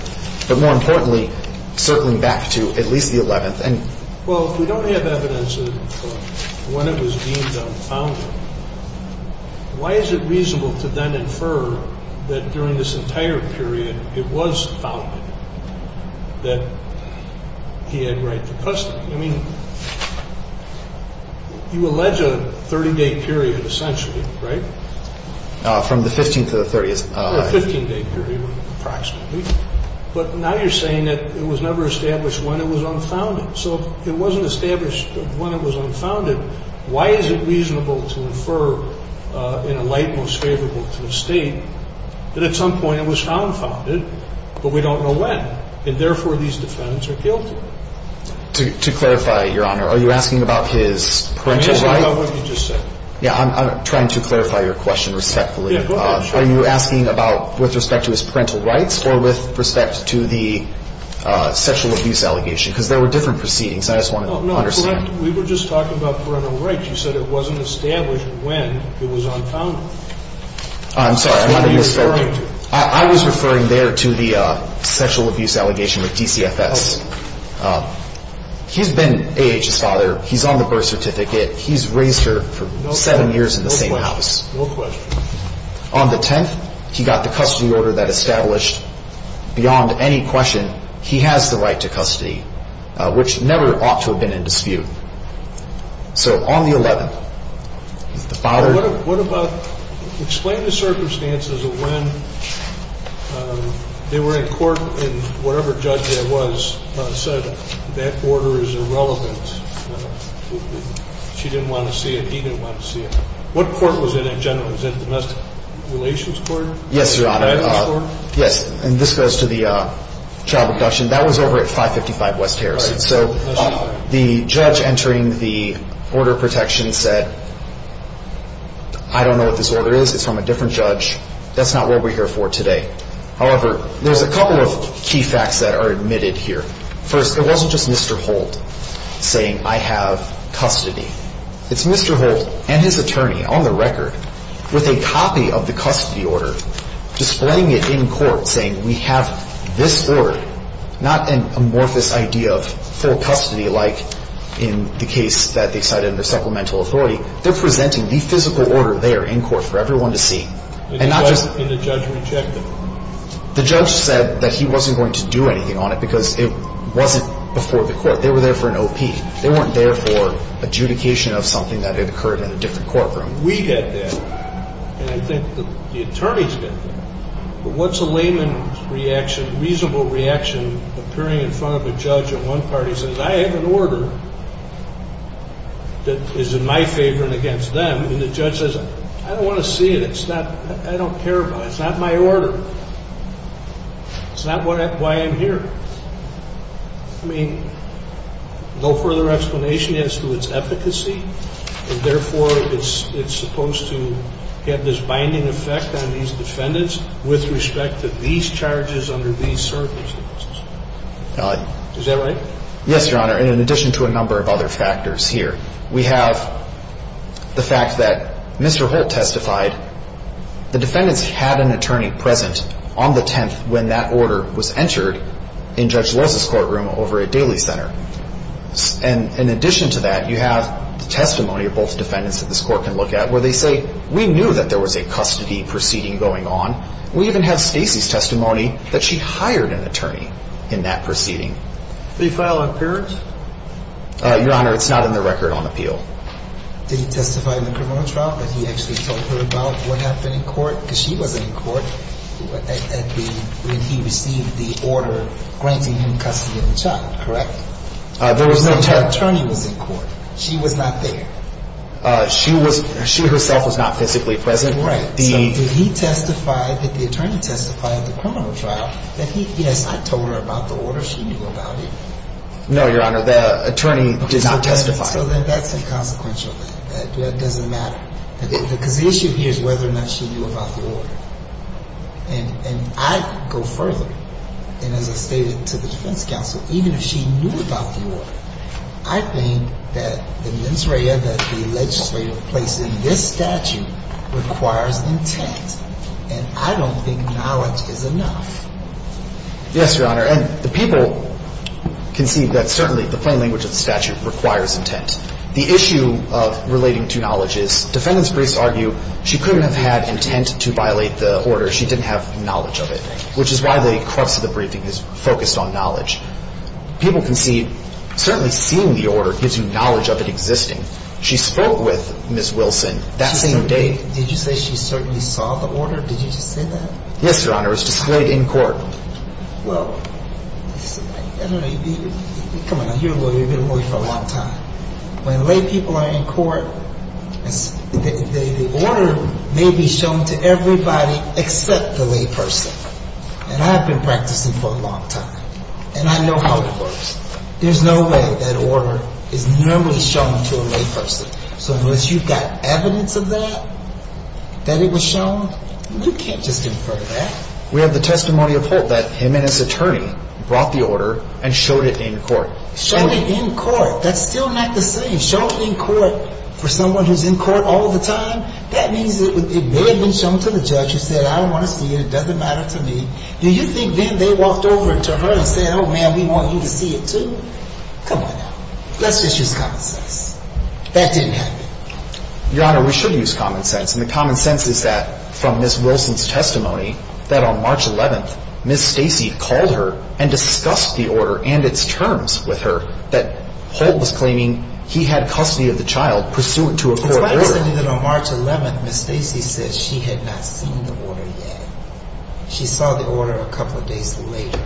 But more importantly, circling back to at least the 11th. Well, if we don't have evidence of when it was deemed unfounded, why is it reasonable to then infer that during this entire period it was founded, that he had right to custody? I mean, you allege a 30-day period essentially, right? From the 15th to the 30th. A 15-day period approximately. But now you're saying that it was never established when it was unfounded. So if it wasn't established when it was unfounded, why is it reasonable to infer in a light most favorable to the State that at some point it was found founded but we don't know when, and therefore these defendants are guilty? To clarify, Your Honor, are you asking about his parental rights? I'm asking about what you just said. Yeah, I'm trying to clarify your question respectfully. Are you asking about with respect to his parental rights or with respect to the sexual abuse allegation? Because there were different proceedings. I just wanted to understand. We were just talking about parental rights. You said it wasn't established when it was unfounded. I'm sorry. I was referring there to the sexual abuse allegation with DCFS. He's been A.H.'s father. He's on the birth certificate. He's raised her for seven years in the same house. No question. On the 10th, he got the custody order that established beyond any question he has the right to custody, which never ought to have been in dispute. So on the 11th, the father. Explain the circumstances of when they were in court and whatever judge that was said that order is irrelevant. She didn't want to see it. He didn't want to see it. What court was it in generally? Was it a domestic relations court? Yes, Your Honor. Yes, and this goes to the child abduction. That was over at 555 West Harrison. So the judge entering the order of protection said, I don't know what this order is. It's from a different judge. That's not what we're here for today. However, there's a couple of key facts that are admitted here. First, it wasn't just Mr. Holt saying, I have custody. It's Mr. Holt and his attorney, on the record, with a copy of the custody order displaying it in court, saying we have this order, not an amorphous idea of full custody like in the case that they cited under supplemental authority. They're presenting the physical order there in court for everyone to see. And not just the judge rejected. The judge said that he wasn't going to do anything on it because it wasn't before the court. They were there for an OP. They weren't there for adjudication of something that had occurred in a different courtroom. We get that, and I think the attorneys get that. But what's a layman's reaction, reasonable reaction, appearing in front of a judge at one party says, I have an order that is in my favor and against them. And the judge says, I don't want to see it. I don't care about it. It's not my order. It's not why I'm here. I mean, no further explanation as to its efficacy, and therefore it's supposed to have this binding effect on these defendants with respect to these charges under these circumstances. Is that right? Yes, Your Honor, in addition to a number of other factors here. We have the fact that Mr. Holt testified. The defendants had an attorney present on the 10th when that order was entered. In Judge Loz's courtroom over at Daly Center. And in addition to that, you have the testimony of both defendants that this court can look at where they say, we knew that there was a custody proceeding going on. We even have Stacey's testimony that she hired an attorney in that proceeding. Did he file an appearance? Your Honor, it's not in the record on appeal. Did he testify in the criminal trial? Did he actually talk to her about what happened in court? Because she wasn't in court when he received the order granting him custody of the child. Correct? There was no attorney. The attorney was in court. She was not there. She herself was not physically present. Right. So did he testify, did the attorney testify at the criminal trial? Yes, I told her about the order. She knew about it. No, Your Honor. The attorney did not testify. So then that's inconsequential then. That doesn't matter. Because the issue here is whether or not she knew about the order. And I go further. And as I stated to the defense counsel, even if she knew about the order, I think that the mens rea, that the legislative place in this statute requires intent. And I don't think knowledge is enough. Yes, Your Honor. And the people can see that certainly the plain language of the statute requires intent. The issue of relating to knowledge is defendants' briefs argue she couldn't have had intent to violate the order. She didn't have knowledge of it, which is why the crux of the briefing is focused on knowledge. People can see certainly seeing the order gives you knowledge of it existing. She spoke with Ms. Wilson that same day. Did you say she certainly saw the order? Did you just say that? Yes, Your Honor. It was displayed in court. Well, come on. You're a lawyer. You've been a lawyer for a long time. When lay people are in court, the order may be shown to everybody except the lay person. And I've been practicing for a long time. And I know how it works. There's no way that order is normally shown to a lay person. So unless you've got evidence of that, that it was shown, you can't just infer that. We have the testimony of Holt that him and his attorney brought the order and showed it in court. Showed it in court. That's still not the same. Show it in court for someone who's in court all the time. That means it may have been shown to the judge who said, I don't want to see it. It doesn't matter to me. Do you think then they walked over to her and said, oh, man, we want you to see it too? Come on now. Let's just use common sense. That didn't happen. Your Honor, we should use common sense. And the common sense is that from Ms. Wilson's testimony, that on March 11th, Ms. Stacey called her and discussed the order and its terms with her, that Holt was claiming he had custody of the child pursuant to a court order. It's my understanding that on March 11th, Ms. Stacey said she had not seen the order yet. She saw the order a couple of days later.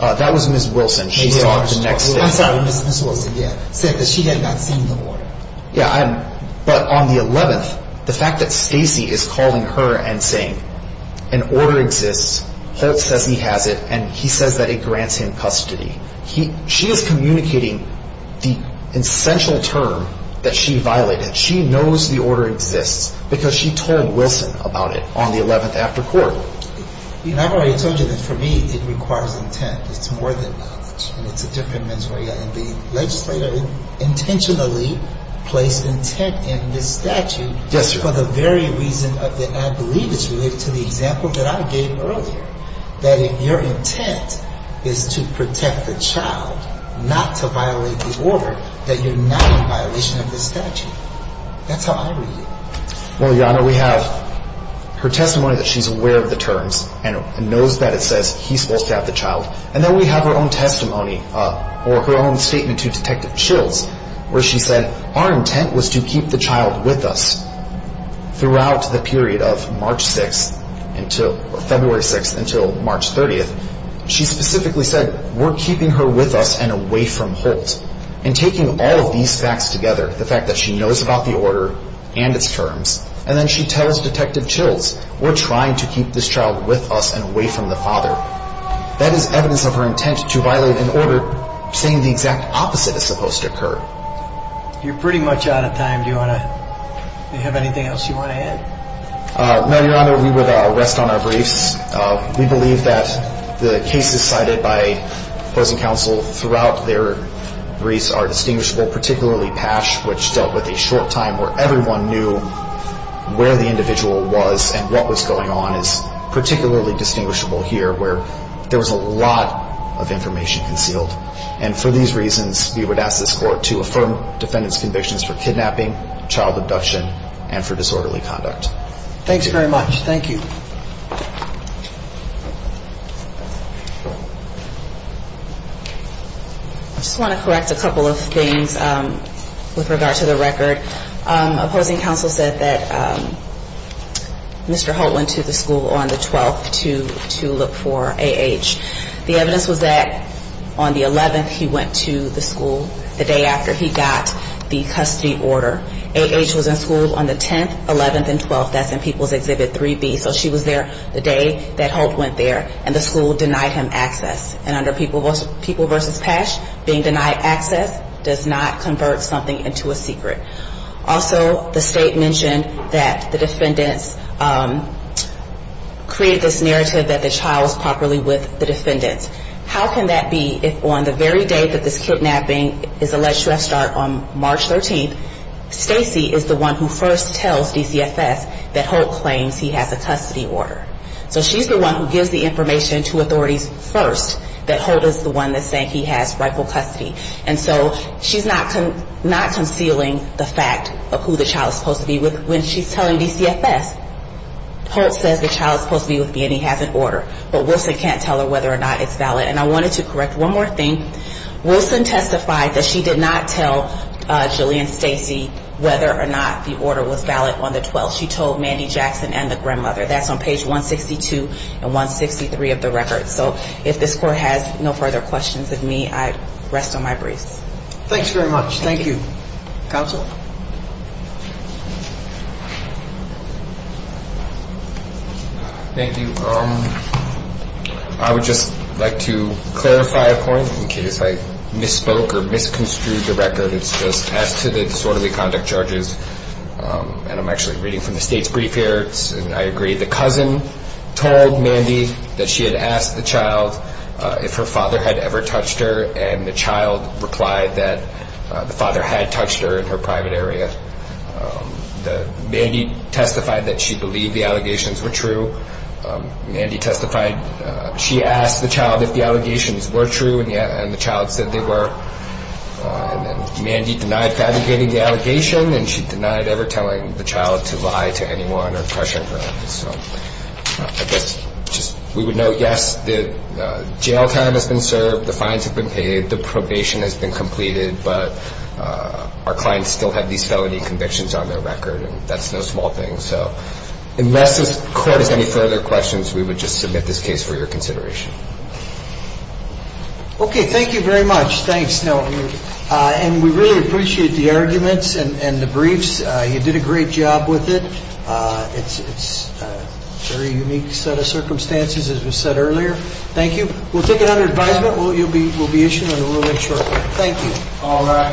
That was Ms. Wilson. She saw it the next day. I'm sorry. Ms. Wilson, yeah, said that she had not seen the order. Yeah, but on the 11th, the fact that Stacey is calling her and saying an order exists, Holt says he has it, and he says that it grants him custody, she is communicating the essential term that she violated. She knows the order exists because she told Wilson about it on the 11th after court. Your Honor, I told you that for me it requires intent. It's more than that. It's a different mens rea. The legislator intentionally placed intent in this statute for the very reason that I believe is related to the example that I gave earlier, that if your intent is to protect the child, not to violate the order, that you're not in violation of the statute. That's how I read it. Well, Your Honor, we have her testimony that she's aware of the terms and knows that it says he's supposed to have the child, and then we have her own testimony or her own statement to Detective Chills where she said, our intent was to keep the child with us throughout the period of February 6th until March 30th. She specifically said, we're keeping her with us and away from Holt, and taking all of these facts together, the fact that she knows about the order and its terms, and then she tells Detective Chills, we're trying to keep this child with us and away from the father. That is evidence of her intent to violate an order saying the exact opposite is supposed to occur. You're pretty much out of time. Do you have anything else you want to add? No, Your Honor. We would rest on our briefs. We believe that the cases cited by opposing counsel throughout their briefs are distinguishable, particularly Patch, which dealt with a short time where everyone knew where the individual was and what was going on is particularly distinguishable here where there was a lot of information concealed. And for these reasons, we would ask this Court to affirm defendant's convictions for kidnapping, child abduction, and for disorderly conduct. Thanks very much. Thank you. I just want to correct a couple of things with regard to the record. Opposing counsel said that Mr. Holt went to the school on the 12th to look for A.H. The evidence was that on the 11th he went to the school the day after he got the custody order. A.H. was in school on the 10th, 11th, and 12th. That's in People's Exhibit 3B. So she was there the day that Holt went there, and the school denied him access. And under People v. Patch, being denied access does not convert something into a secret. Also, the State mentioned that the defendants created this narrative that the child was properly with the defendants. How can that be if on the very day that this kidnapping is alleged to have started on March 13th, Stacy is the one who first tells DCFS that Holt claims he has a custody order? So she's the one who gives the information to authorities first that Holt is the one that's saying he has rightful custody. And so she's not concealing the fact of who the child is supposed to be with when she's telling DCFS. Holt says the child is supposed to be with me and he has an order, but Wilson can't tell her whether or not it's valid. And I wanted to correct one more thing. Wilson testified that she did not tell Julianne Stacy whether or not the order was valid on the 12th. She told Mandy Jackson and the grandmother. That's on page 162 and 163 of the record. So if this Court has no further questions of me, I rest on my brace. Thanks very much. Thank you. Counsel? Thank you. I would just like to clarify a point in case I misspoke or misconstrued the record. It's just as to the disorderly conduct charges, and I'm actually reading from the state's brief here, and I agree. The cousin told Mandy that she had asked the child if her father had ever touched her, and the child replied that the father had touched her in her private area. Mandy testified that she believed the allegations were true. Mandy testified she asked the child if the allegations were true, and the child said they were. And then Mandy denied fabricating the allegation, and she denied ever telling the child to lie to anyone or pressure her. So I guess just we would note, yes, the jail time has been served. The fines have been paid. The probation has been completed. But our clients still have these felony convictions on their record, and that's no small thing. So unless the court has any further questions, we would just submit this case for your consideration. Okay. Thank you very much. Thanks. And we really appreciate the arguments and the briefs. You did a great job with it. It's a very unique set of circumstances, as we said earlier. Thank you. We'll take it under advisement. We'll be issuing it shortly. Thank you.